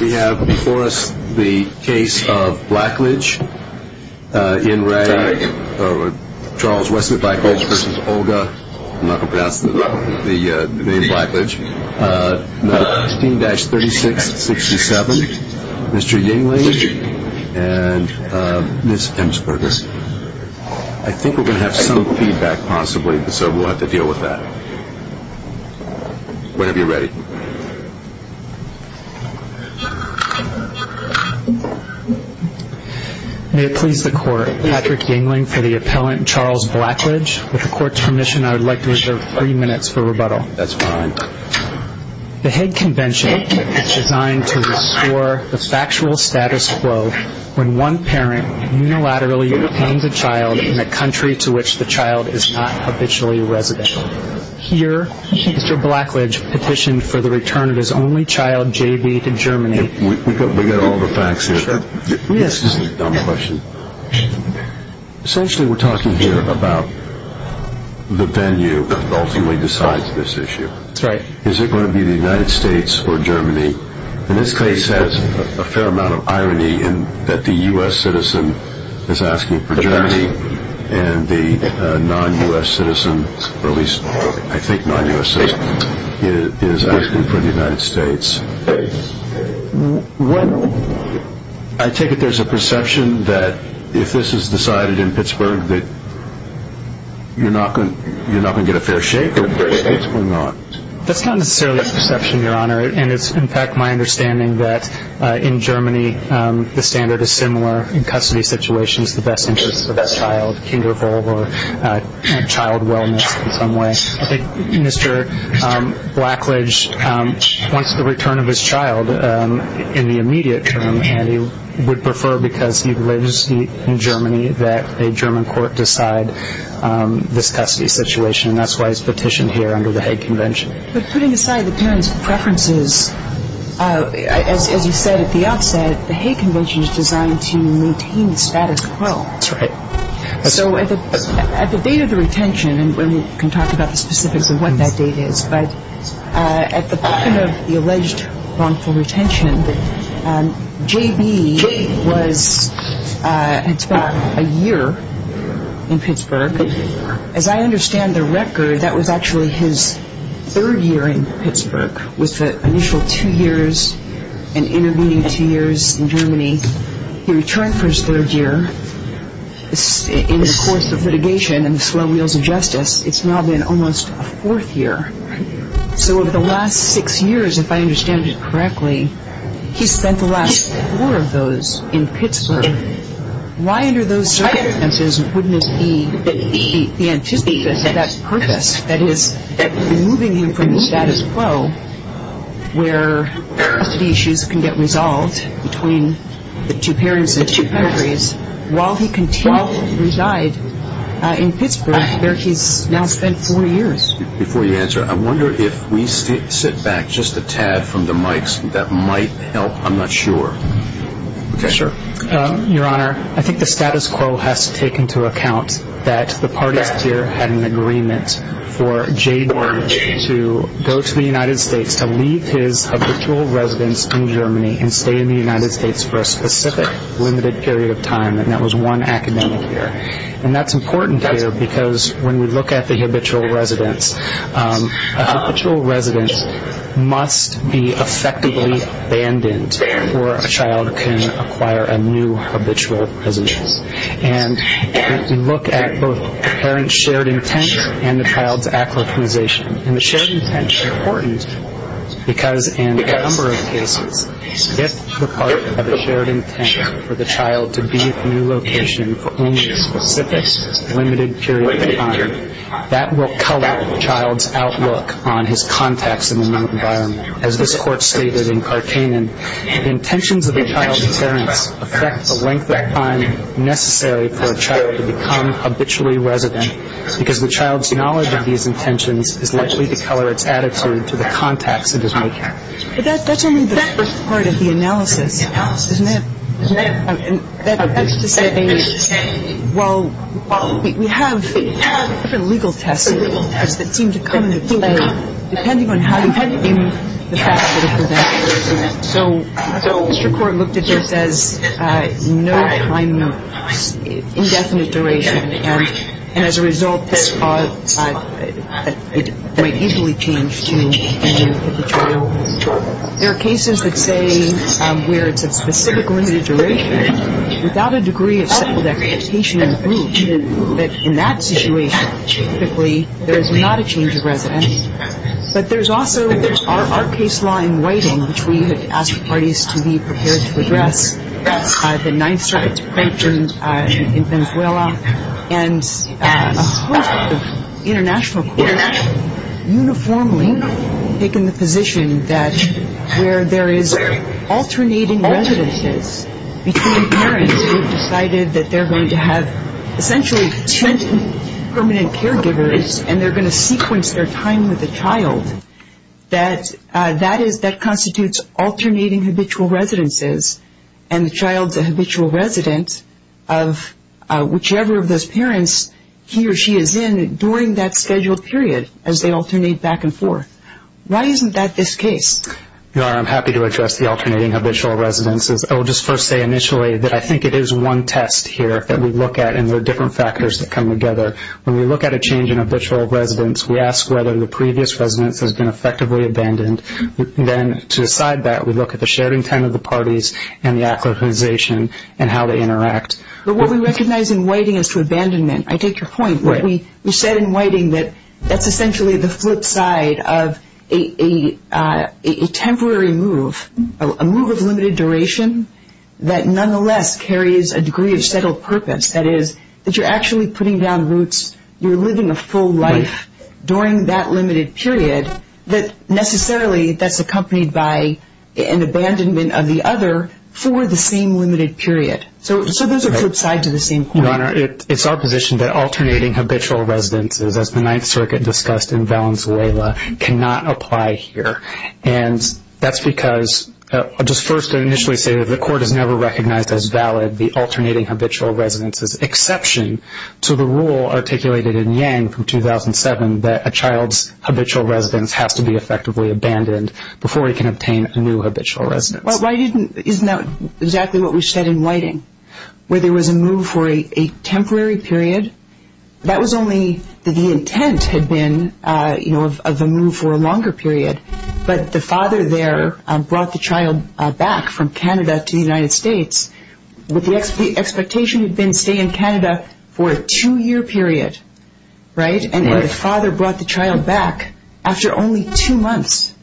We have before us the case of Blackledge, Charles W. Blackledge v. Olga, 16-3667, Mr. Yingling, and Ms. Emsberger. I think we're going to have some feedback possibly, so we'll have to deal with that. Whenever you're ready. May it please the court, Patrick Yingling for the appellant Charles Blackledge. With the court's permission, I would like to reserve three minutes for rebuttal. That's fine. The Hague Convention is designed to restore the factual status quo when one parent unilaterally detains a child in a country to which the Here, Mr. Blackledge petitioned for the return of his only child, JB, to Germany. We've got all the facts here. This is a dumb question. Essentially, we're talking here about the venue that ultimately decides this issue. Is it going to be the United States or Germany? And this case has a fair amount of irony in that the U.S. citizen is asking for Germany, and the non-U.S. citizen, or at least I think non-U.S. citizen, is asking for the United States. I take it there's a perception that if this is decided in Pittsburgh that you're not going to get a fair shake? That's not necessarily a perception, Your Honor, and it's in fact my understanding that in Germany the standard is similar. In custody situations, the best interest of the child, kinder, or child wellness in some way. I think Mr. Blackledge wants the return of his child in the immediate term, and he would prefer because he lives in Germany that a German court decide this custody situation, and that's why he's petitioned here under the Hague Convention. But putting aside the parent's preferences, as you said at the outset, the Hague Convention is designed to maintain the status quo. So at the date of the retention, and we can talk about the specifics of what that date is, but at the time of the alleged wrongful retention, J.B. had spent a year in Pittsburgh. As I understand the record, that was actually his second year in Germany. He returned for his third year. In the course of litigation and the slow wheels of justice, it's now been almost a fourth year. So of the last six years, if I understand it correctly, he spent the last four of those in Pittsburgh. Why under those circumstances wouldn't it be the antithesis of that purpose, that is, removing him from the two parents and two pedigrees, while he continued to reside in Pittsburgh, where he's now spent four years? Before you answer, I wonder if we sit back just a tad from the mics. That might help. I'm not sure. Your Honor, I think the status quo has to take into account that the parties here had an agreement for J.B. to go to the United States, to leave his habitual residence in Germany and stay in the United States for a specific limited period of time, and that was one academic year. And that's important here, because when we look at the habitual residence, a habitual residence must be effectively abandoned before a child can acquire a new habitual residence. And if we look at both the parent's shared intent and the child's acquisition, and the shared intent is important because in a number of cases, if the part of the shared intent for the child to be at the new location for only a specific limited period of time, that will color the child's outlook on his contacts in the new environment. As this Court stated in Karkanen, the intentions of a child's parents affect the length of time necessary for a child to become habitually resident, because the child's knowledge of these intentions is likely to color its attitude to the contacts it is making. But that's only the first part of the analysis, isn't it? Isn't it? And that's to say, well, we have different legal tests that seem to come into play, depending on how you handle the facts that are presented. So Mr. Court looked at this as no time indefinite duration, and as a result, this might easily change to a new habitual residence. There are cases that say where it's a specific limited duration without a degree of settled expectation that in that situation, typically, there's not a change of residence. But there's also our case law in Whiting, which we had asked parties to be prepared to address, the Ninth Circuit's approach in Venezuela, and a host of international courts uniformly taking the position that where there is alternating residences between parents who have decided that they're going to have essentially two permanent caregivers, and they're going to sequence their time with the child, that constitutes alternating habitual residences, and the child's a habitual resident of whichever of those parents he or she is in during that scheduled period, as they alternate back and forth. Why isn't that this case? Your Honor, I'm happy to address the alternating habitual residences. I will just first say factors that come together. When we look at a change in habitual residence, we ask whether the previous residence has been effectively abandoned. Then to decide that, we look at the shared intent of the parties and the acquisition and how they interact. But what we recognize in Whiting is to abandonment. I take your point. Right. We said in Whiting that that's essentially the flip side of a temporary move, a move of limited duration that nonetheless carries a degree of settled purpose. That is, that you're actually putting down roots. You're living a full life during that limited period that necessarily that's accompanied by an abandonment of the other for the same limited period. So those are flip sides of the same coin. Your Honor, it's our position that alternating habitual residences, as the Ninth Circuit discussed in Valenzuela, cannot apply here. And that's because I'll just first initially say that the Court has never recognized as valid the alternating habitual residences exception to the rule articulated in Yang from 2007 that a child's habitual residence has to be effectively abandoned before he can obtain a new habitual residence. Well, isn't that exactly what we said in Whiting, where there was a move for a temporary period? That was only that the intent had been, you know, of a move for a longer period. But the father there brought the child back from Canada to the United States with the expectation he'd been staying in Canada for a two-year period. Right? Right. And the father brought the child back after only two months.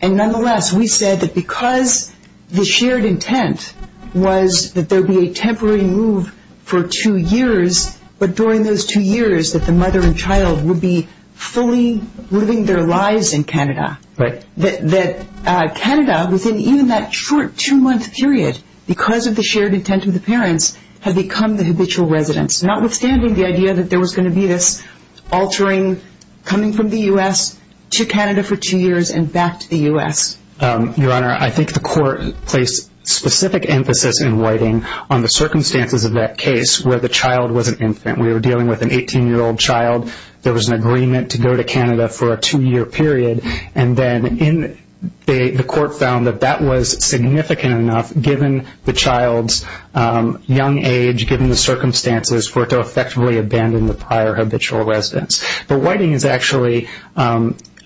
And nonetheless, we said that because the shared intent was that there would be a temporary move for two years, but during those two years that the mother and child would be fully living their lives in Canada. Right. That Canada, within even that short two-month period, because of the shared intent of the parents, had become the habitual residence, notwithstanding the idea that there was going to be this altering coming from the U.S. to Canada for two years and back to the U.S. Your Honor, I think the court placed specific emphasis in Whiting on the circumstances of that case where the child was an infant. We were dealing with an 18-year-old child. There was an agreement to go to Canada for a two-year period. And then the court found that that was significant enough, given the child's young age, given the circumstances, for it to effectively abandon the prior habitual residence. But Whiting is actually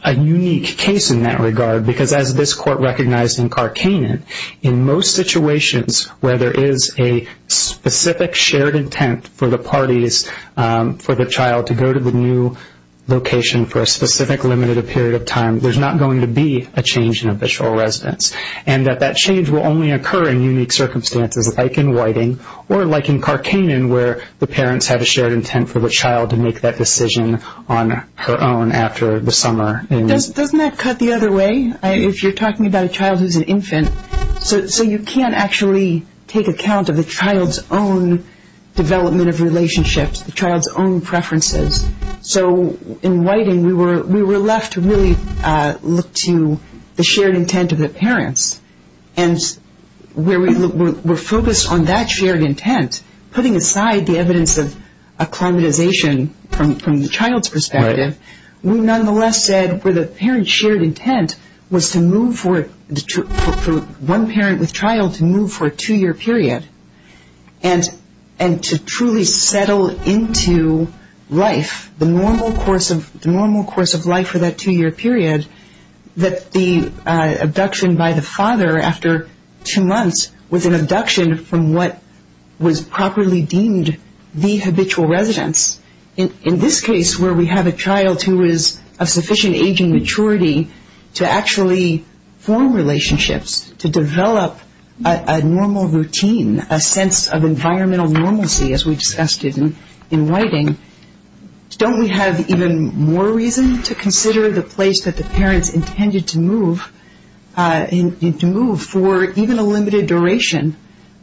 a unique case in that regard, because as this court recognized in Karkanen, in most situations where there is a specific shared intent for the parties for the child to go to the new location for a specific limited period of time, there's not going to be a change in habitual residence. And that that change will only occur in unique circumstances, like in Whiting, or like in Karkanen, where the parents had a shared intent for the child to make that decision on her own after the summer. Doesn't that cut the other way? If you're talking about a child who's an infant, so you can't actually take account of the child's own development of relationships, the child's own preferences. So in Whiting, we were left to really look to the shared intent of the parents. And where we were focused on that shared intent, putting aside the evidence of acclimatization from the child's perspective, we nonetheless said where the parent's shared intent was for one parent with child to move for a two-year period, and to truly settle into life, the normal course of life for that two-year period, that the abduction by the habitual residence, in this case where we have a child who is of sufficient aging maturity to actually form relationships, to develop a normal routine, a sense of environmental normalcy, as we discussed in Whiting, don't we have even more reason to consider the place that the parents intended to move, to move for even a limited duration,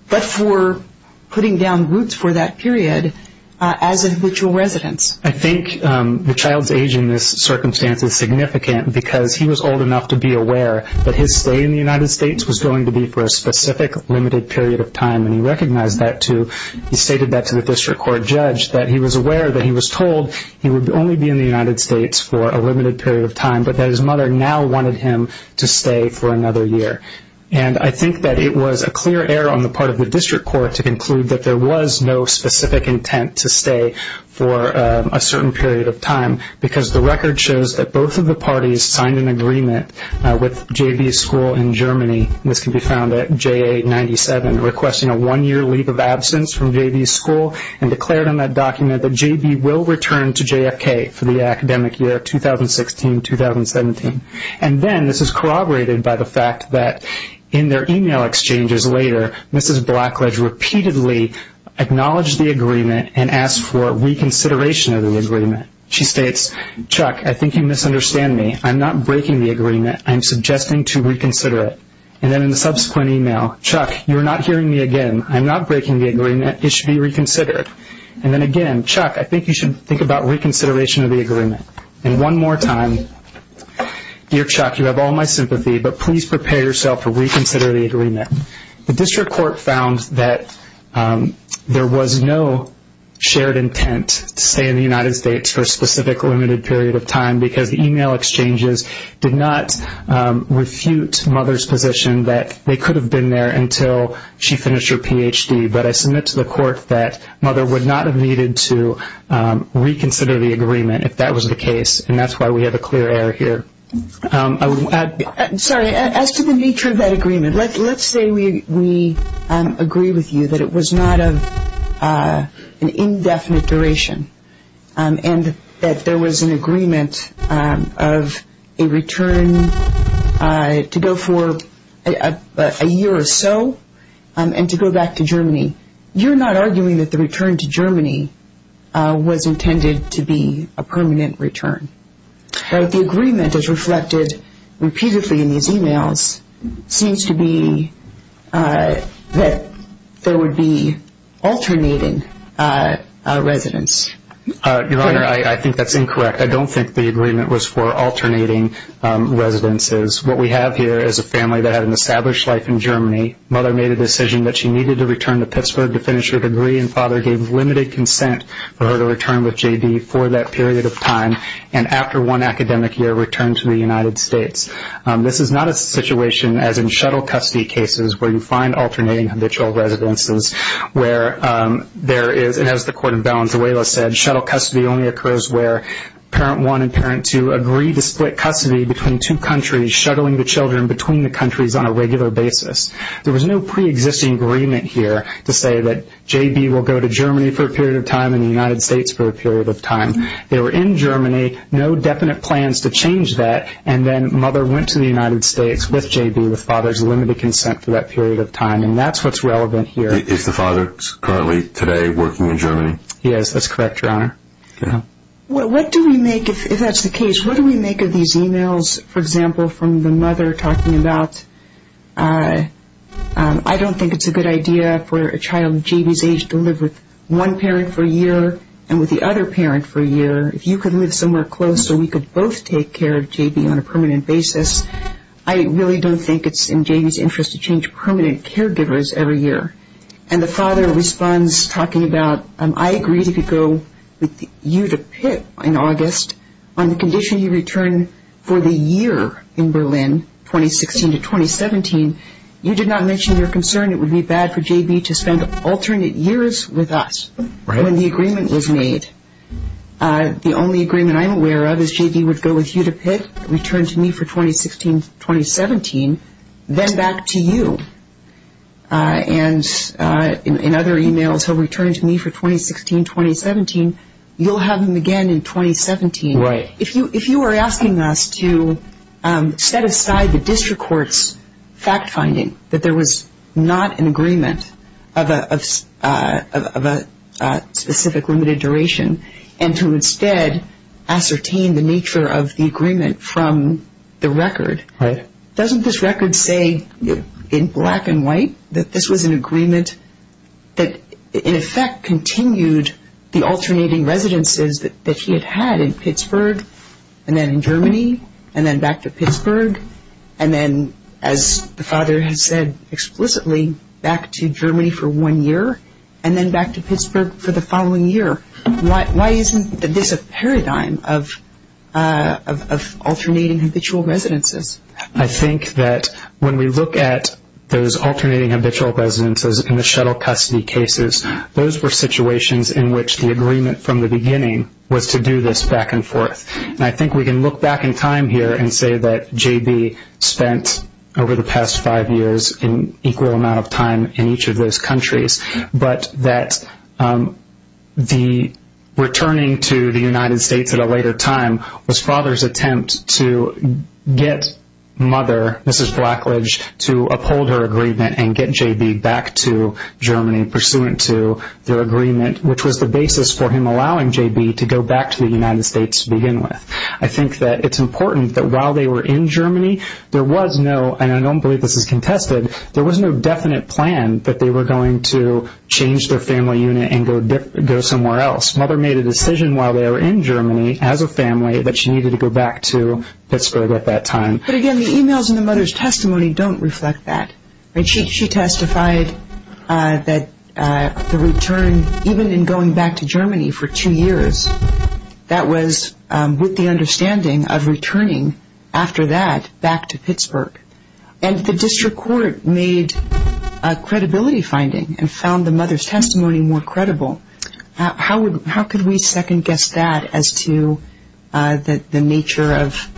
but for putting down roots for that period as a habitual residence? I think the child's age in this circumstance is significant because he was old enough to be aware that his stay in the United States was going to be for a specific limited period of time, and he recognized that, too. He stated that to the district court judge, that he was aware that he was told he would only be in the United States for a limited period of time, but that his mother now wanted him to stay for another year. And I think that it was a clear error on the part of the district court to conclude that there was no specific intent to stay for a certain period of time, because the record shows that both of the parties signed an agreement with J.B.'s school in Germany, this can be found at J.A. 97, requesting a one-year leave of absence from J.B.'s school, and declared on that document that J.B. will return to JFK for the academic year 2016-2017. And then, this is corroborated by the fact that in their email exchanges later, Mrs. Blackledge repeatedly acknowledged the agreement and asked for reconsideration of the agreement. She states, Chuck, I think you misunderstand me. I'm not breaking the agreement. I'm suggesting to reconsider it. And then in the subsequent email, Chuck, you're not hearing me again. I'm not breaking the agreement. It should be reconsidered. And then again, Chuck, I think you should think about reconsideration of the agreement. And one more time, dear Chuck, you have all my sympathy, but please prepare yourself to reconsider the agreement. The district court found that there was no shared intent to stay in the United States for a specific limited period of time, because the email exchanges did not refute Mother's position that they could have been there until she finished her Ph.D. But I submit to the court that Mother would not have needed to reconsider the agreement if that was the case, and that's why we have a clear error here. I'm sorry. As to the nature of that agreement, let's say we agree with you that it was not of an indefinite duration and that there was an agreement of a return to go for a year or so and to go back to Germany. You're not arguing that the return to Germany was intended to be a permanent return. But the agreement is reflected repeatedly in these emails seems to be that there would be alternating residence. Your Honor, I think that's incorrect. I don't think the agreement was for alternating residences. What we have here is a family that had an established life in Germany. Mother made a decision that she needed to return to Pittsburgh to finish her degree, and Father gave limited consent for her to return with J.B. for that period of time, and after one academic year returned to the United States. This is not a situation as in shuttle custody cases where you find alternating habitual residences where there is, and as the court in Valenzuela said, shuttle custody only occurs where parent one and parent two agree to split custody between two countries, shuttling the children between the countries on a regular basis. There was no preexisting agreement here to say that J.B. will go to Germany for a period of time and the United States for a period of time. They were in Germany, no definite plans to change that, and then Mother went to the United States with J.B. with Father's limited consent for that period of time, and that's what's relevant here. Is the Father currently today working in Germany? Yes, that's correct, Your Honor. What do we make, if that's the case, what do we make of these emails, for example, from the Mother talking about, I don't think it's a good idea for a child J.B.'s age to live with one parent for a year and with the other parent for a year. If you could live somewhere close so we could both take care of J.B. on a permanent basis, I really don't think it's in J.B.'s interest to change permanent caregivers every year. And the Father responds talking about, I agree to go with you to Pitt in August on the condition you return for the year in Berlin 2016 to 2017. You did not mention your concern it would be bad for J.B. to spend alternate years with us when the agreement was made. The only agreement I'm aware of is J.B. would go with you to Pitt, return to me for 2016-2017, then back to you. And in other emails he'll return to me for 2016-2017, you'll have him again in 2017. Right. If you were asking us to set aside the district court's fact finding that there was not an agreement of a specific limited duration and to instead ascertain the nature of the agreement from the record, doesn't this record say in black and white that this was an agreement that in effect continued the alternating residences that he had had in Pittsburgh and then in Germany and then back to Pittsburgh and then, as the Father has said explicitly, back to Germany for one year and then back to Pittsburgh for the following year? Why isn't this a paradigm of alternating habitual residences? I think that when we look at those alternating habitual residences in the shuttle custody cases, those were situations in which the agreement from the beginning was to do this back and forth. And I think we can look back in time here and say that J.B. spent over the past five years an equal amount of time in each of those countries, but that the returning to the United States at a later time was Father's attempt to get Mother, Mrs. Blackledge, to uphold her agreement and get J.B. back to Germany pursuant to their agreement, which was the basis for him allowing J.B. to go back to the United States to begin with. I think that it's important that while they were in Germany, there was no, and I don't believe this is contested, there was no definite plan that they were going to change their decision while they were in Germany as a family that she needed to go back to Pittsburgh at that time. But again, the e-mails and the mother's testimony don't reflect that. She testified that the return, even in going back to Germany for two years, that was with the understanding of returning after that back to Pittsburgh. And the district court made a credibility finding and found the mother's testimony more credible. How could we second-guess that as to the nature of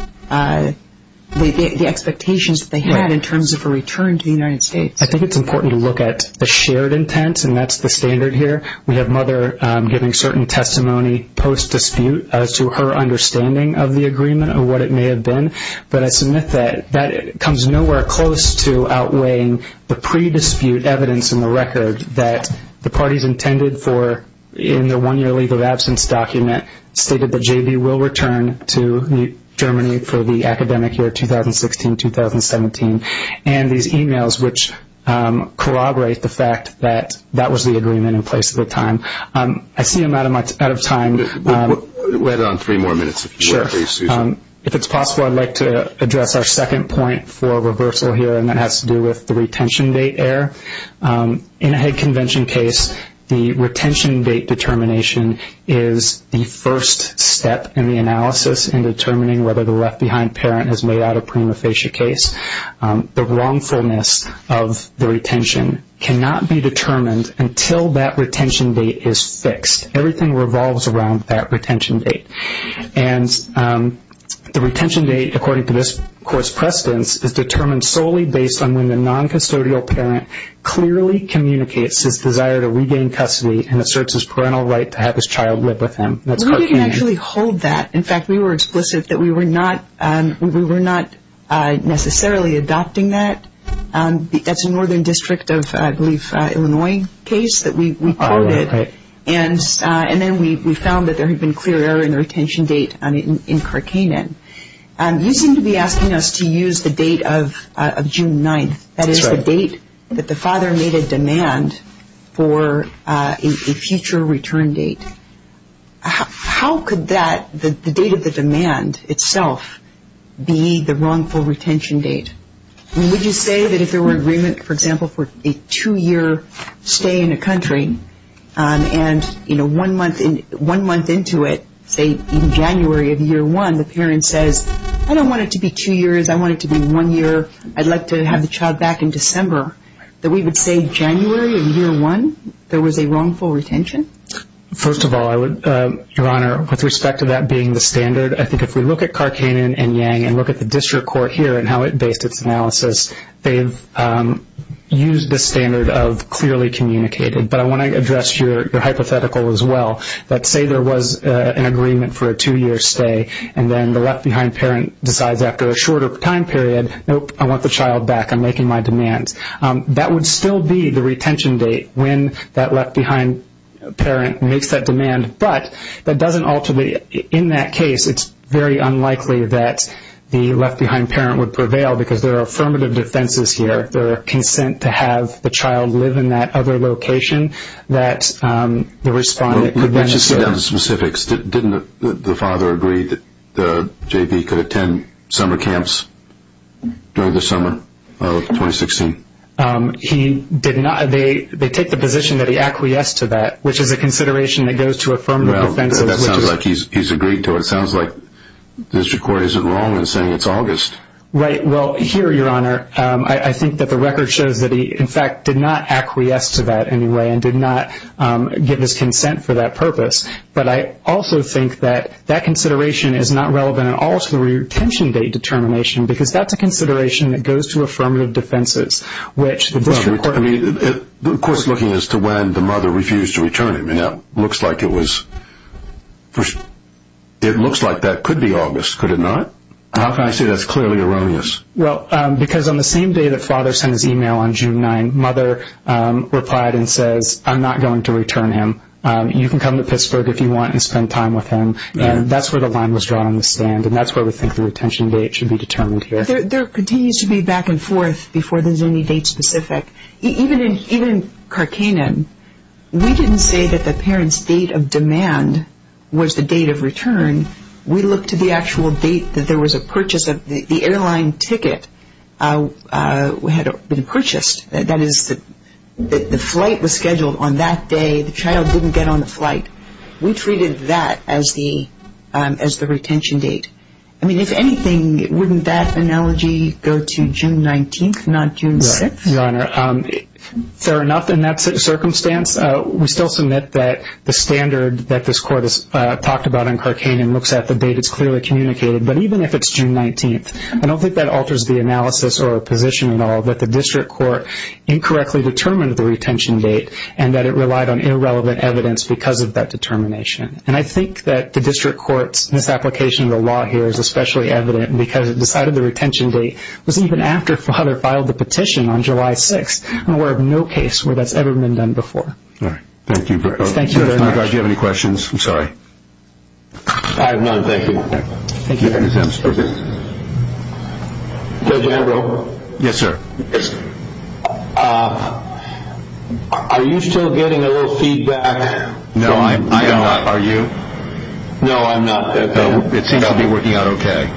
the expectations that they had in terms of a return to the United States? I think it's important to look at the shared intent, and that's the standard here. We have Mother giving certain testimony post-dispute as to her understanding of the agreement and what it may have been. But I submit that that comes nowhere close to outweighing the pre-dispute evidence in the record that the parties intended for in the one-year legal absence document stated that J.B. will return to Germany for the academic year 2016-2017, and these e-mails which corroborate the fact that that was the agreement in place at the time. I see I'm out of time. We'll add on three more minutes if you want to, please, Susan. If it's possible, I'd like to address our second point for reversal here, and that has to do with the retention date error. In a Hague Convention case, the retention date determination is the first step in the analysis in determining whether the left-behind parent has laid out a prima facie case. The wrongfulness of the retention cannot be determined until that retention date is fixed. Everything revolves around that retention date. And the retention date, according to this court's precedence, is determined solely based on when the non-custodial parent clearly communicates his desire to regain custody and asserts his parental right to have his child live with him. We didn't actually hold that. In fact, we were explicit that we were not necessarily adopting that. That's a northern district of, I believe, Illinois case that we quoted, and then we found that there had been clear error in the retention date in Karkainen. You seem to be asking us to use the date of June 9th. That is the date that the father made a demand for a future return date. How could that, the date of the demand itself, be the wrongful retention date? Would you say that if there were agreement, for example, for a two-year stay in a country and, you know, one month into it, say in January of year one, the parent says, I don't want it to be two years. I want it to be one year. I'd like to have the child back in December, that we would say January of year one there was a wrongful retention? First of all, Your Honor, with respect to that being the standard, I think if we look at Karkainen and Yang and look at the district court here and how it based its analysis, they've used the standard of clearly communicated. But I want to address your hypothetical as well. Let's say there was an agreement for a two-year stay and then the left-behind parent decides after a shorter time period, nope, I want the child back. I'm making my demand. That would still be the retention date when that left-behind parent makes that demand, but that doesn't ultimately, in that case, it's very unlikely that the left-behind parent would prevail because there are affirmative defenses here. There are consent to have the child live in that other location that the respondent could then say. Let's just get down to specifics. Didn't the father agree that J.B. could attend summer camps during the summer of 2016? He did not. They take the position that he acquiesced to that, which is a consideration that goes to affirmative defenses. That sounds like he's agreed to it. It sounds like the district court isn't wrong in saying it's August. Here, Your Honor, I think that the record shows that he, in fact, did not acquiesce to that anyway and did not give his consent for that purpose, but I also think that that consideration is not relevant at all to the retention date determination because that's a consideration that goes to affirmative defenses. Of course, looking as to when the mother refused to return him, it looks like that could be August. Could it not? How can I say that's clearly erroneous? Well, because on the same day that father sent his e-mail on June 9, mother replied and says, I'm not going to return him. You can come to Pittsburgh if you want and spend time with him, and that's where the line was drawn on the stand and that's where we think the retention date should be determined here. There continues to be back and forth before there's any date specific. Even in Karkanen, we didn't say that the parent's date of demand was the date of return. We looked at the actual date that there was a purchase of the airline ticket had been purchased. That is, the flight was scheduled on that day. The child didn't get on the flight. We treated that as the retention date. I mean, if anything, wouldn't that analogy go to June 19, not June 6? Your Honor, fair enough in that circumstance. We still submit that the standard that this Court has talked about in Karkanen looks at the date. It's clearly communicated, but even if it's June 19, I don't think that alters the analysis or position at all that the district court incorrectly determined the retention date and that it relied on irrelevant evidence because of that determination. And I think that the district court's misapplication of the law here is especially evident because it decided the retention date was even after father filed the petition on July 6. We're aware of no case where that's ever been done before. Thank you. Do you have any questions? I'm sorry. I have none. Thank you. Judge Ambrose? Yes, sir. Are you still getting a little feedback? No, I am not. Are you? No, I'm not. It seems to be working out okay.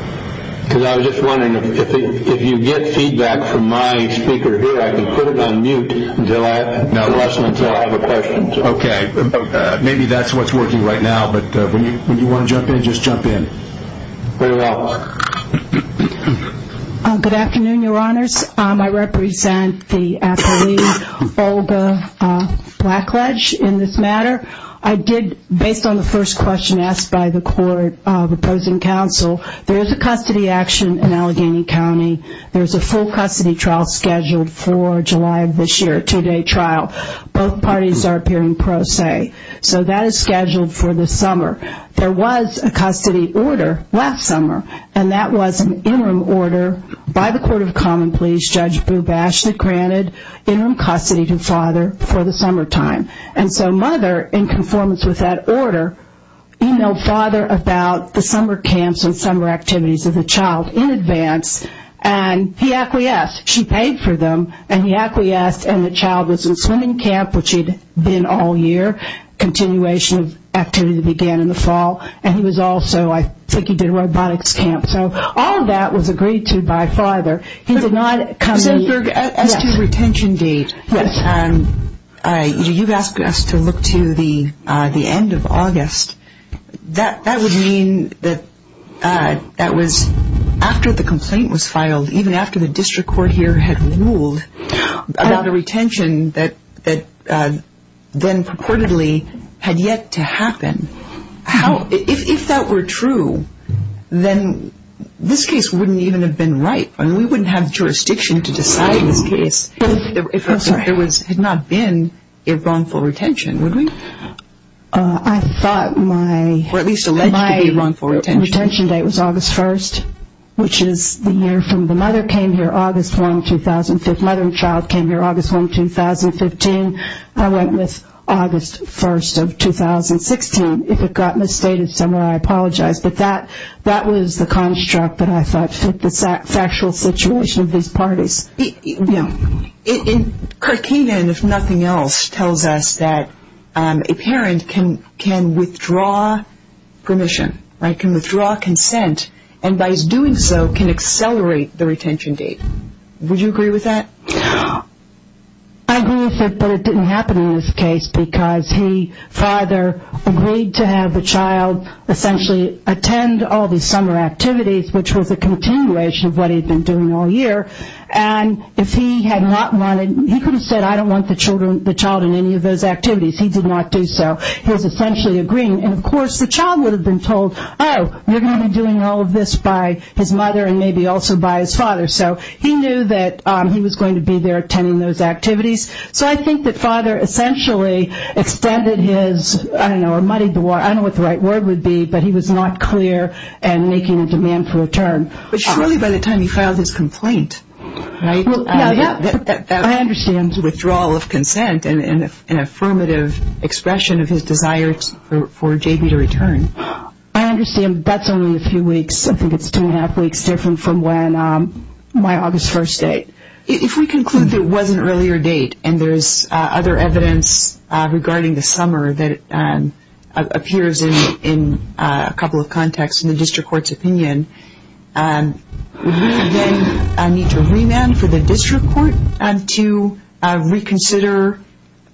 Because I was just wondering if you get feedback from my speaker here, I can put it on mute until I have a question. Okay. Maybe that's what's working right now, but when you want to jump in, just jump in. Very well. Good afternoon, Your Honors. I represent the athlete Olga Blackledge in this matter. Based on the first question asked by the court opposing counsel, there is a custody action in Allegheny County. There's a full custody trial scheduled for July of this year, a two-day trial. Both parties are appearing pro se. So that is scheduled for this summer. There was a custody order last summer, and that was an interim order by the Court of Common Pleas, Judge Bubash, that granted interim custody to father for the summertime. And so mother, in conformance with that order, emailed father about the summer camps and summer activities of the child in advance, and he acquiesced. She paid for them, and he acquiesced, and the child was in swimming camp, which he'd been all year. Continuation of activity began in the fall. And he was also, I think he did a robotics camp. So all of that was agreed to by father. He did not come to me. You've asked us to look to the end of August. That would mean that that was after the complaint was filed, even after the district court here had ruled about a retention that then purportedly had yet to happen. If that were true, then this case wouldn't even have been right. I mean, we wouldn't have jurisdiction to decide this case. If there had not been a wrongful retention, would we? I thought my retention date was August 1st, which is the year from the mother came here, August 1, 2005. Mother and child came here August 1, 2015. I went with August 1st of 2016. If it got misstated somewhere, I apologize. But that was the construct that I thought fit the factual situation of these parties. You know, Karkina, if nothing else, tells us that a parent can withdraw permission, right, can withdraw consent, and by his doing so can accelerate the retention date. Would you agree with that? I agree with it, but it didn't happen in this case because he, father, agreed to have the child essentially attend all the summer activities, which was a continuation of what he had been doing all year. And if he had not wanted, he could have said, I don't want the child in any of those activities. He did not do so. He was essentially agreeing. And, of course, the child would have been told, oh, you're going to be doing all of this by his mother and maybe also by his father. So he knew that he was going to be there attending those activities. So I think that father essentially extended his, I don't know, muddied the water, I don't know what the right word would be, but he was not clear in making a demand for return. But surely by the time he filed his complaint, right, that withdrawal of consent and an affirmative expression of his desire for JB to return. I understand that's only a few weeks. I think it's two and a half weeks different from when my August 1st date. If we conclude that it was an earlier date and there's other evidence regarding the summer that appears in a couple of contexts in the district court's opinion, would we then need to remand for the district court to reconsider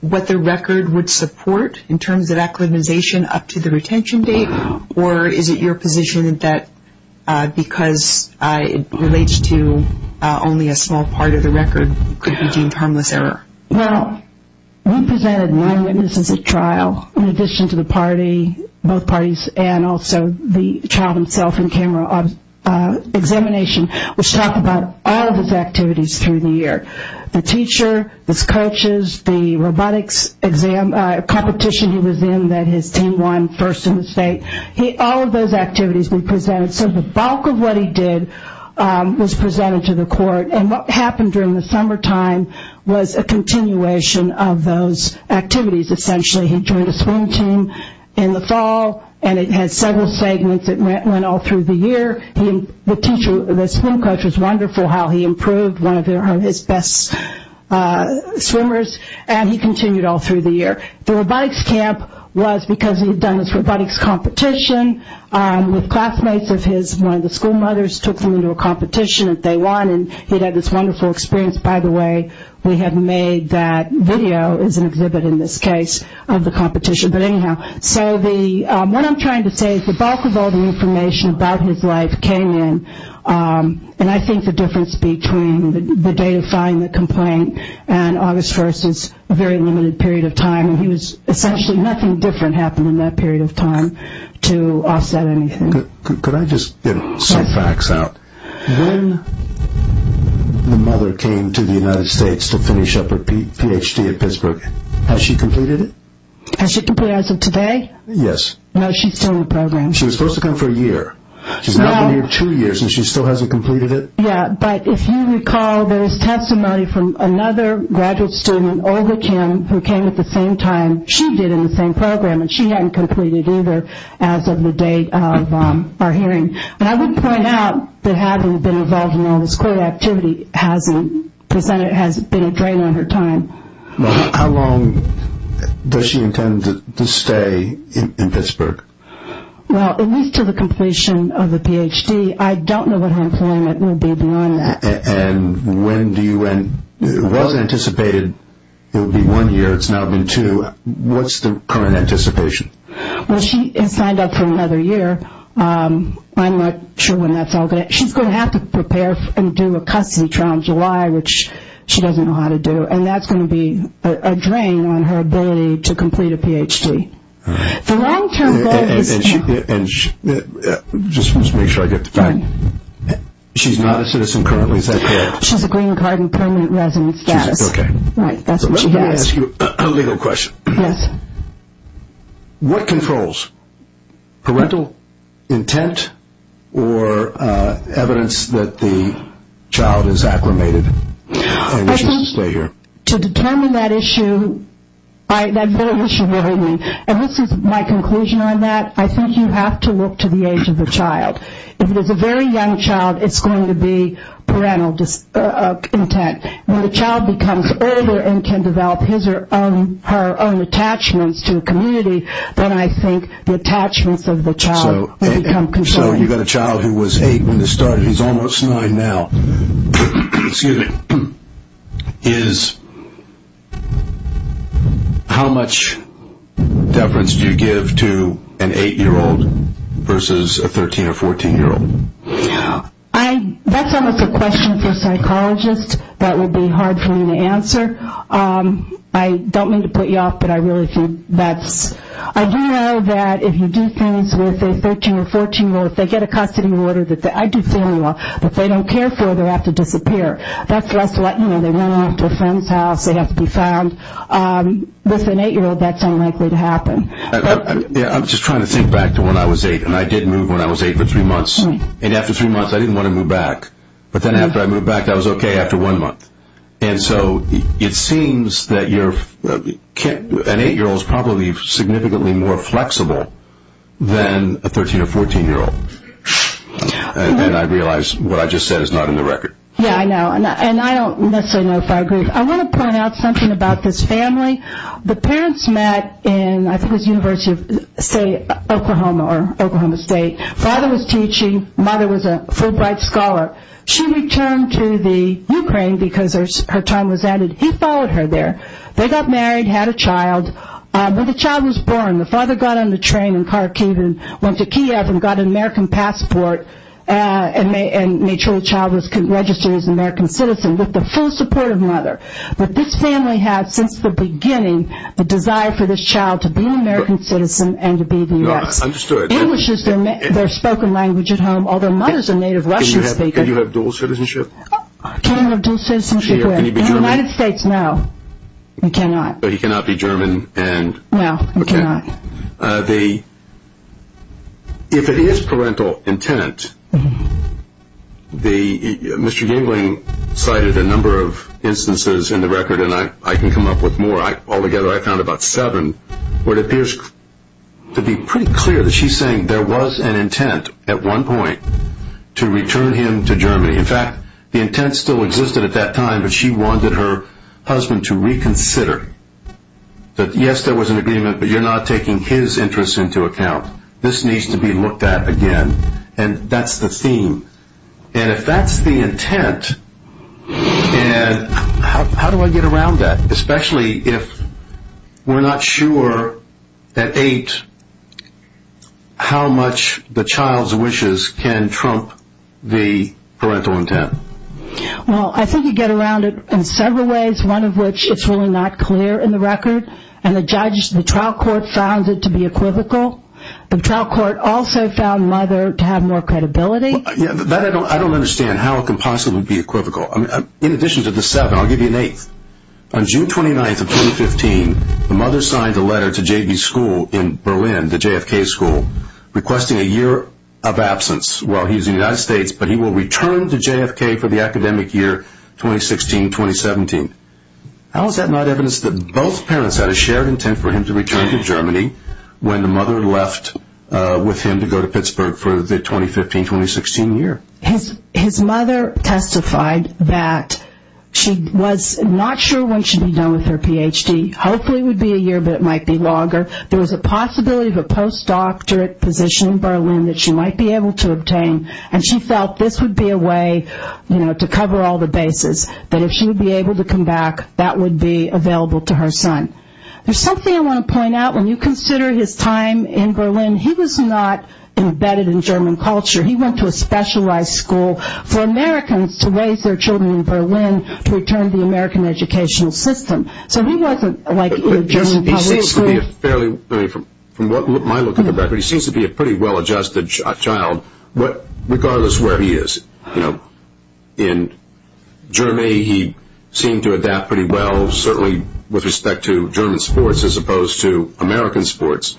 what the record would support in terms of acclimatization up to the retention date? Or is it your position that because it relates to only a small part of the record, it could be deemed harmless error? Well, we presented nine witnesses at trial in addition to the party, both parties, and also the child himself in camera examination, which talked about all of his activities through the year. The teacher, his coaches, the robotics competition he was in that his team won first in the state. All of those activities we presented. So the bulk of what he did was presented to the court. And what happened during the summertime was a continuation of those activities. Essentially, he joined a swim team in the fall, and it had several segments. It went all through the year. The swim coach was wonderful how he improved, one of his best swimmers, and he continued all through the year. The robotics camp was because he had done his robotics competition with classmates of his. One of the school mothers took him into a competition that they won, and he had had this wonderful experience. By the way, we have made that video as an exhibit in this case of the competition. But anyhow, so what I'm trying to say is the bulk of all the information about his life came in, and I think the difference between the day of filing the complaint and August 1st is a very limited period of time. Essentially nothing different happened in that period of time to offset anything. Could I just get some facts out? When the mother came to the United States to finish up her Ph.D. at Pittsburgh, has she completed it? Has she completed it as of today? Yes. No, she's still in the program. She was supposed to come for a year. She's not been here two years, and she still hasn't completed it? Yeah, but if you recall, there is testimony from another graduate student, Olga Kim, who came at the same time she did in the same program, and she hadn't completed either as of the date of our hearing. But I would point out that having been involved in all this court activity, the Senate has been a drain on her time. How long does she intend to stay in Pittsburgh? Well, at least until the completion of the Ph.D. I don't know what her employment will be beyond that. And when do you end? It wasn't anticipated it would be one year. It's now been two. What's the current anticipation? Well, she has signed up for another year. I'm not sure when that's all going to happen. She's going to have to prepare and do a custody trial in July, which she doesn't know how to do, and that's going to be a drain on her ability to complete a Ph.D. The long-term goal is to – And just to make sure I get the fact, she's not a citizen currently, is that correct? She has a green card and permanent resident status. Okay. Right. That's what she has. Let me ask you a legal question. Yes. What controls? Parental intent or evidence that the child is acclimated? To determine that issue, and this is my conclusion on that, I think you have to look to the age of the child. If it's a very young child, it's going to be parental intent. When the child becomes older and can develop his or her own attachments to a community, then I think the attachments of the child will become controlled. So you've got a child who was 8 when this started. He's almost 9 now. Excuse me. How much deference do you give to an 8-year-old versus a 13- or 14-year-old? That's almost a question for a psychologist that would be hard for me to answer. I don't mean to put you off, but I really think that's – I do know that if you do things with a 13- or 14-year-old, if they get a custody order that – I do family law. If they don't care for it, they have to disappear. That's less – you know, they run off to a friend's house, they have to be found. I'm just trying to think back to when I was 8, and I did move when I was 8 for three months. And after three months, I didn't want to move back. But then after I moved back, I was okay after one month. And so it seems that an 8-year-old is probably significantly more flexible than a 13- or 14-year-old. And I realize what I just said is not in the record. Yeah, I know. And I don't necessarily know if I agree. I want to point out something about this family. The parents met in – I think it was University of, say, Oklahoma or Oklahoma State. Father was teaching. Mother was a Fulbright scholar. She returned to the Ukraine because her time was ended. He followed her there. They got married, had a child. When the child was born, the father got on the train and car came and went to Kiev and got an American passport But this family had, since the beginning, the desire for this child to be an American citizen and to be the U.S. No, I understood. English is their spoken language at home, although mothers are native Russian speakers. Can you have dual citizenship? I can't have dual citizenship with. Can you be German? In the United States, no. You cannot. But he cannot be German. No, he cannot. If it is parental intent, Mr. Gangling cited a number of instances in the record, and I can come up with more. Altogether, I found about seven. It appears to be pretty clear that she's saying there was an intent at one point to return him to Germany. In fact, the intent still existed at that time, but she wanted her husband to reconsider. Yes, there was an agreement, but you're not taking his interests into account. This needs to be looked at again, and that's the theme. And if that's the intent, how do I get around that, especially if we're not sure at eight how much the child's wishes can trump the parental intent? Well, I think you get around it in several ways, one of which it's really not clear in the record, and the trial court found it to be equivocal. The trial court also found mother to have more credibility. I don't understand how it can possibly be equivocal. In addition to the seven, I'll give you an eighth. On June 29th of 2015, the mother signed a letter to J.B.'s school in Berlin, the JFK school, requesting a year of absence while he was in the United States, but he will return to JFK for the academic year 2016-2017. How is that not evidence that both parents had a shared intent for him to return to Germany when the mother left with him to go to Pittsburgh for the 2015-2016 year? His mother testified that she was not sure when she'd be done with her Ph.D. Hopefully it would be a year, but it might be longer. There was a possibility of a post-doctorate position in Berlin that she might be able to obtain, and she felt this would be a way to cover all the bases, that if she would be able to come back, that would be available to her son. There's something I want to point out. When you consider his time in Berlin, he was not embedded in German culture. He went to a specialized school for Americans to raise their children in Berlin to return to the American educational system. From my look at the record, he seems to be a pretty well-adjusted child, regardless of where he is. In Germany, he seemed to adapt pretty well, certainly with respect to German sports as opposed to American sports,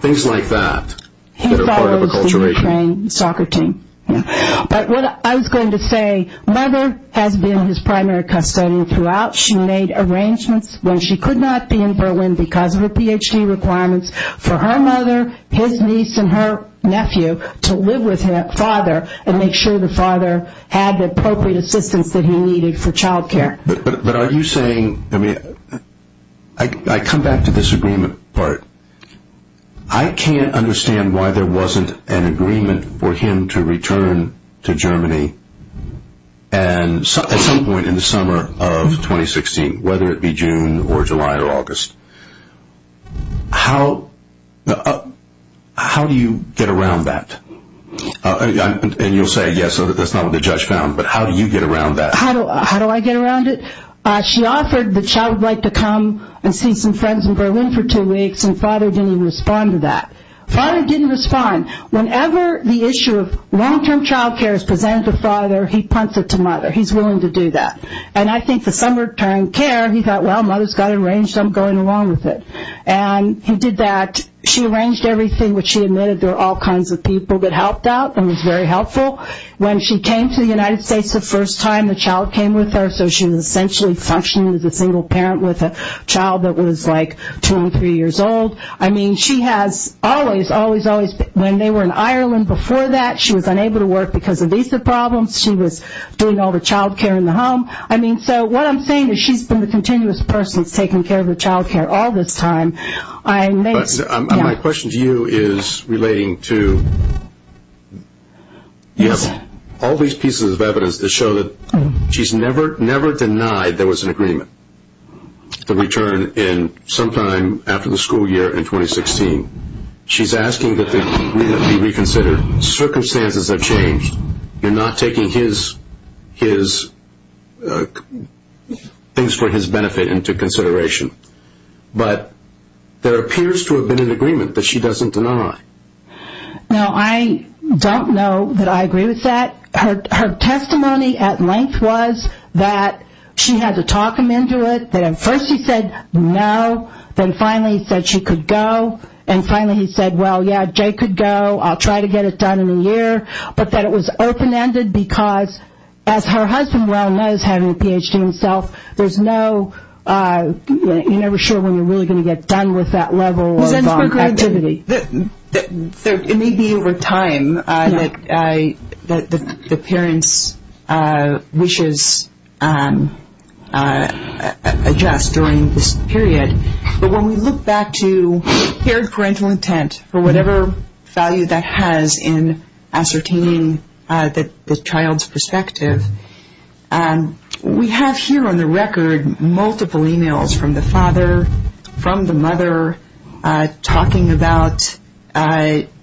things like that that are part of acculturation. He follows the Ukrainian soccer team. But what I was going to say, mother has been his primary custodian throughout. She made arrangements when she could not be in Berlin because of her Ph.D. requirements for her mother, his niece, and her nephew to live with their father and make sure the father had the appropriate assistance that he needed for child care. But are you saying, I mean, I come back to this agreement part. I can't understand why there wasn't an agreement for him to return to Germany. And at some point in the summer of 2016, whether it be June or July or August, how do you get around that? And you'll say, yes, that's not what the judge found, but how do you get around that? How do I get around it? She offered the child would like to come and see some friends in Berlin for two weeks and father didn't even respond to that. Father didn't respond. Whenever the issue of long-term child care is presented to father, he punts it to mother. He's willing to do that. And I think the summertime care, he thought, well, mother's got it arranged, I'm going along with it. And he did that. She arranged everything, which she admitted there were all kinds of people that helped out and was very helpful. When she came to the United States the first time, the child came with her, so she was essentially functioning as a single parent with a child that was like two or three years old. I mean, she has always, always, always, when they were in Ireland before that, she was unable to work because of visa problems. She was doing all the child care in the home. I mean, so what I'm saying is she's been the continuous person taking care of the child care all this time. My question to you is relating to all these pieces of evidence that show that she's never denied there was an agreement to return sometime after the school year in 2016. She's asking that the agreement be reconsidered. Circumstances have changed. You're not taking things for his benefit into consideration. But there appears to have been an agreement that she doesn't deny. No, I don't know that I agree with that. Her testimony at length was that she had to talk him into it, that at first he said no, then finally he said she could go, and finally he said, well, yeah, Jay could go. I'll try to get it done in a year. But that it was open-ended because, as her husband well knows, having a Ph.D. himself, there's no, you're never sure when you're really going to get done with that level of activity. It may be over time that the parents' wishes adjust during this period. But when we look back to paired parental intent for whatever value that has in ascertaining the child's perspective, we have here on the record multiple e-mails from the father, from the mother, talking about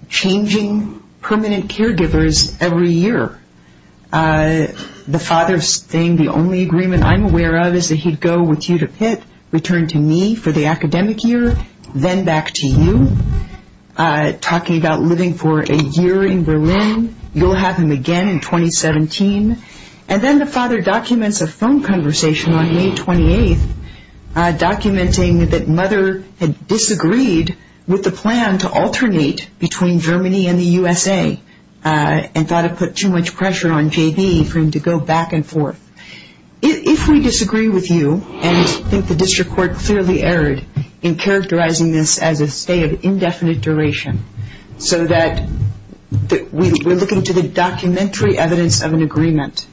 changing permanent caregivers every year. The father's saying the only agreement I'm aware of is that he'd go with you to Pitt, return to me for the academic year, then back to you, talking about living for a year in Berlin. You'll have him again in 2017. And then the father documents a phone conversation on May 28th, documenting that mother had disagreed with the plan to alternate between Germany and the USA and thought it put too much pressure on J.B. for him to go back and forth. If we disagree with you and think the district court clearly erred in characterizing this as a stay of indefinite duration so that we're looking to the documentary evidence of an agreement,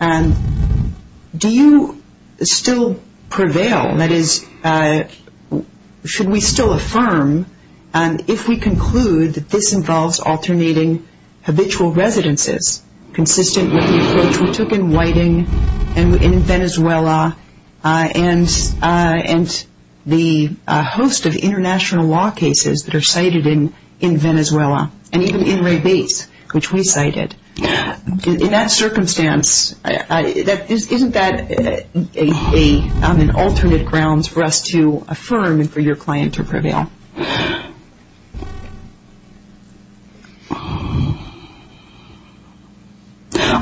do you still prevail? That is, should we still affirm if we conclude that this involves alternating habitual residences consistent with the approach we took in Whiting and in Venezuela and the host of international law cases that are cited in Venezuela and even in Rebates, which we cited? In that circumstance, isn't that an alternate grounds for us to affirm and for your client to prevail? I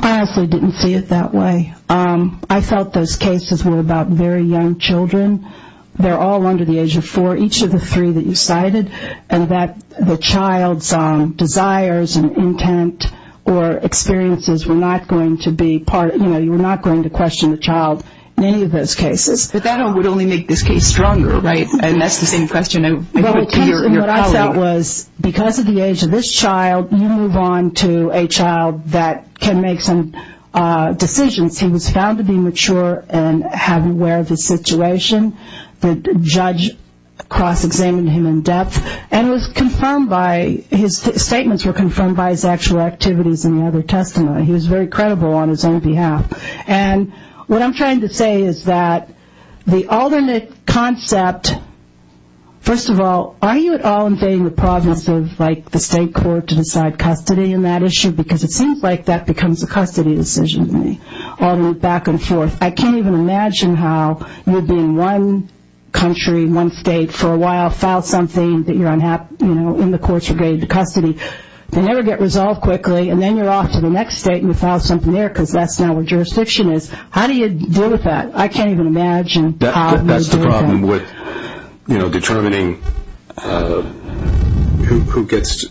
honestly didn't see it that way. I felt those cases were about very young children. They're all under the age of four, each of the three that you cited, and that the child's desires and intent or experiences were not going to be part, you know, you were not going to question the child in any of those cases. But that would only make this case stronger, right? And that's the same question I'm asking. What I felt was because of the age of this child, you move on to a child that can make some decisions. He was found to be mature and aware of his situation. The judge cross-examined him in depth, and his statements were confirmed by his actual activities in the other testimony. He was very credible on his own behalf. And what I'm trying to say is that the alternate concept, first of all, are you at all invading the province of, like, the state court to decide custody in that issue? Because it seems like that becomes a custody decision to me, alternate back and forth. I can't even imagine how you'd be in one country, one state for a while, file something that you're unhappy, you know, in the courts regarding the custody. They never get resolved quickly, and then you're off to the next state, and you file something there because that's now where jurisdiction is. How do you deal with that? I can't even imagine. That's the problem with, you know, determining who gets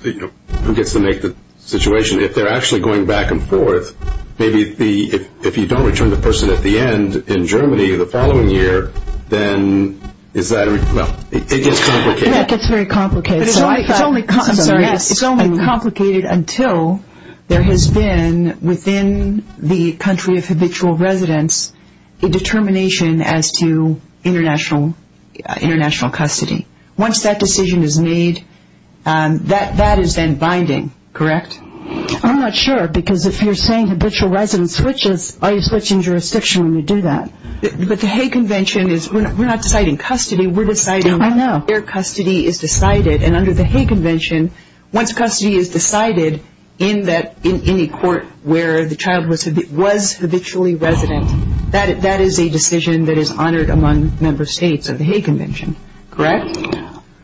to make the situation. If they're actually going back and forth, maybe if you don't return the person at the end in Germany the following year, then is that, well, it gets complicated. It's only complicated until there has been, within the country of habitual residence, a determination as to international custody. Once that decision is made, that is then binding, correct? I'm not sure, because if you're saying habitual residence switches, are you switching jurisdiction when you do that? But the Hague Convention is, we're not deciding custody. We're deciding where custody is decided, and under the Hague Convention, once custody is decided in any court where the child was habitually resident, that is a decision that is honored among member states of the Hague Convention, correct?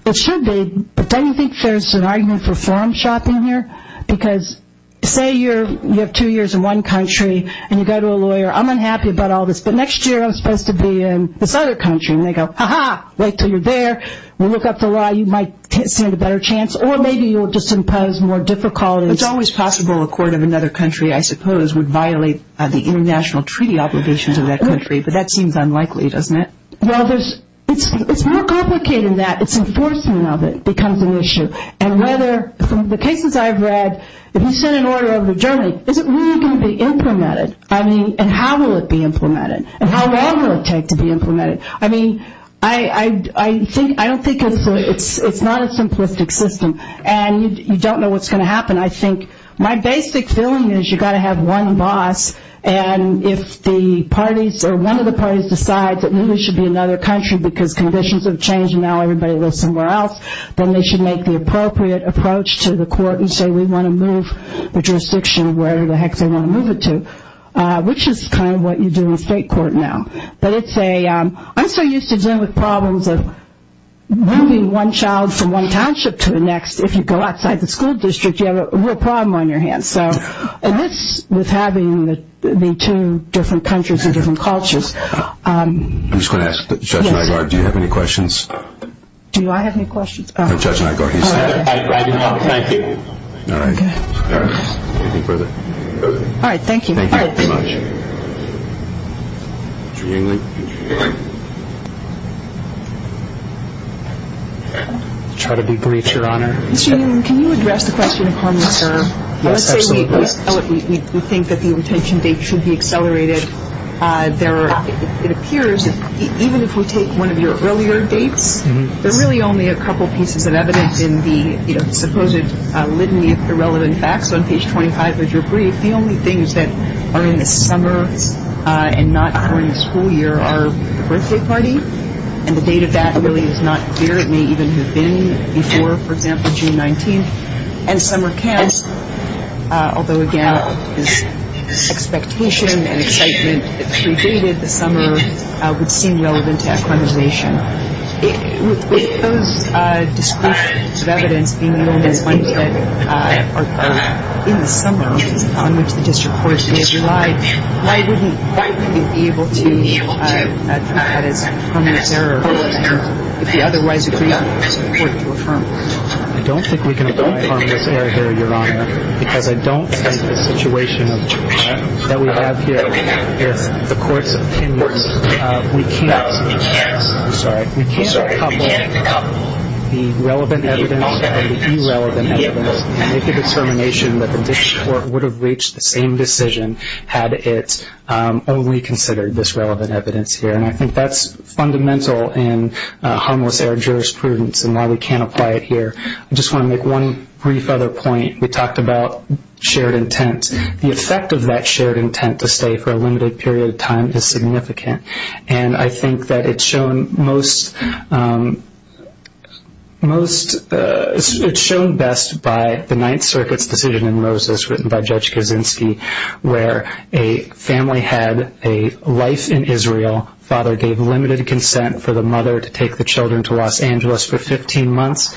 It should be, but don't you think there's an argument for forum shopping here? Because say you have two years in one country, and you go to a lawyer, I'm unhappy about all this, but next year I'm supposed to be in this other country, and they go, ha-ha, wait until you're there. We'll look up the law. You might stand a better chance, or maybe you'll just impose more difficulties. It's always possible a court of another country, I suppose, would violate the international treaty obligations of that country, but that seems unlikely, doesn't it? Well, it's more complicated than that. It's enforcement of it becomes an issue, and whether, from the cases I've read, if you send an order over to Germany, is it really going to be implemented? I mean, and how will it be implemented? And how long will it take to be implemented? I mean, I don't think it's not a simplistic system, and you don't know what's going to happen. I think my basic feeling is you've got to have one boss, and if the parties or one of the parties decides that New York should be another country because conditions have changed and now everybody lives somewhere else, then they should make the appropriate approach to the court and say we want to move the jurisdiction where the heck they want to move it to, which is kind of what you do in a state court now. But I'm so used to dealing with problems of moving one child from one township to the next. If you go outside the school district, you have a real problem on your hands, and that's with having the two different countries and different cultures. I'm just going to ask Judge Nygaard, do you have any questions? Do I have any questions? No, Judge Nygaard, he's there. I do not. Thank you. All right. Anything further? All right, thank you. Thank you very much. I'll try to be brief, Your Honor. Mr. Newman, can you address the question of harmless error? Yes, absolutely. Let's say we think that the retention date should be accelerated. It appears that even if we take one of your earlier dates, there are really only a couple pieces of evidence in the supposed litany of irrelevant facts. On page 25 of your brief, the only things that are in the summer and not during the school year are the birthday party, and the date of that really is not clear. It may even have been before, for example, June 19th. And summer camps, although, again, expectation and excitement that predated the summer would seem relevant to that conversation. With those descriptions of evidence being known as ones that are in the summer, on which the district courts may have relied, why wouldn't you be able to treat that as harmless error if you otherwise agreed for the court to affirm it? I don't think we can apply harmless error here, Your Honor, because I don't think the situation that we have here, the court's opinion, we can't couple the relevant evidence and the irrelevant evidence and make the determination that the district court would have reached the same decision had it only considered this relevant evidence here. And I think that's fundamental in harmless error jurisprudence and why we can't apply it here. I just want to make one brief other point. We talked about shared intent. The effect of that shared intent to stay for a limited period of time is significant, and I think that it's shown best by the Ninth Circuit's decision in Moses written by Judge Kaczynski where a family had a life in Israel. Father gave limited consent for the mother to take the children to Los Angeles for 15 months.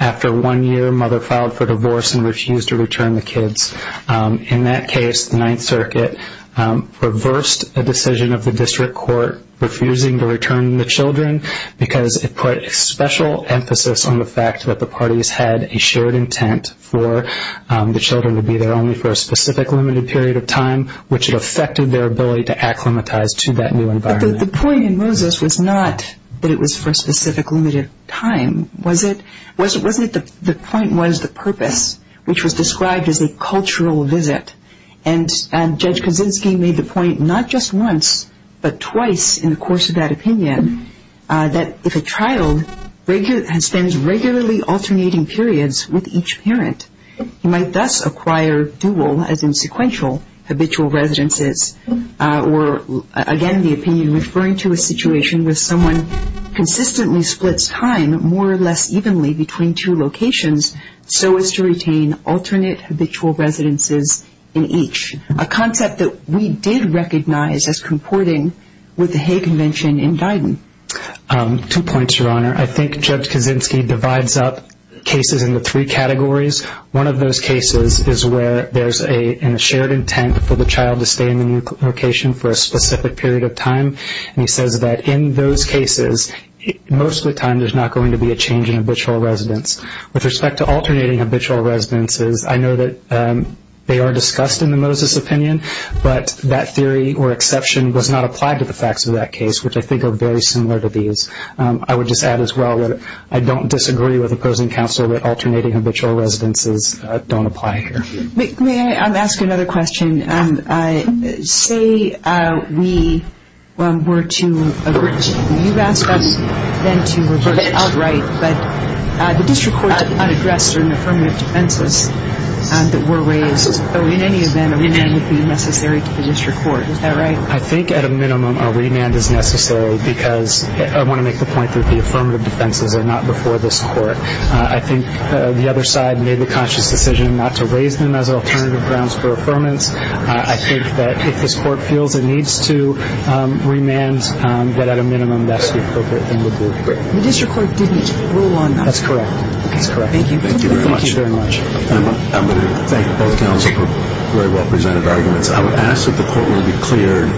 After one year, mother filed for divorce and refused to return the kids. In that case, the Ninth Circuit reversed a decision of the district court refusing to return the children because it put a special emphasis on the fact that the parties had a shared intent for the children to be there only for a specific limited period of time, which it affected their ability to acclimatize to that new environment. But the point in Moses was not that it was for a specific limited time. The point was the purpose, which was described as a cultural visit, and Judge Kaczynski made the point not just once but twice in the course of that opinion that if a child spends regularly alternating periods with each parent, he might thus acquire dual, as in sequential, habitual residences or again the opinion referring to a situation where someone consistently splits time more or less evenly between two locations so as to retain alternate habitual residences in each, a concept that we did recognize as comporting with the Hay Convention in Biden. Two points, Your Honor. I think Judge Kaczynski divides up cases into three categories. One of those cases is where there's a shared intent for the child to stay in the new location for a specific period of time, and he says that in those cases, most of the time there's not going to be a change in habitual residence. With respect to alternating habitual residences, I know that they are discussed in the Moses opinion, but that theory or exception was not applied to the facts of that case, which I think are very similar to these. I would just add as well that I don't disagree with opposing counsel that alternating habitual residences don't apply here. May I ask another question? Say we were to, you asked us then to reverse it outright, but the district court did not address certain affirmative defenses that were raised, so in any event, a remand would be necessary to the district court. Is that right? I think at a minimum a remand is necessary because I want to make the point that the affirmative defenses are not before this court. I think the other side made the conscious decision not to raise them as alternative grounds for affirmance. I think that if this court feels it needs to remand, that at a minimum that's the appropriate thing to do. The district court didn't rule on that. That's correct. Thank you. Thank you very much. I'm going to thank both counsel for very well-presented arguments. I would ask that the court room be cleared,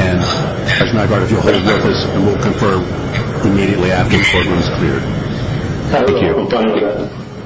and Judge Nygaard, if you'll hold your office, and we'll confirm immediately after the court room is cleared. Thank you. Thank you.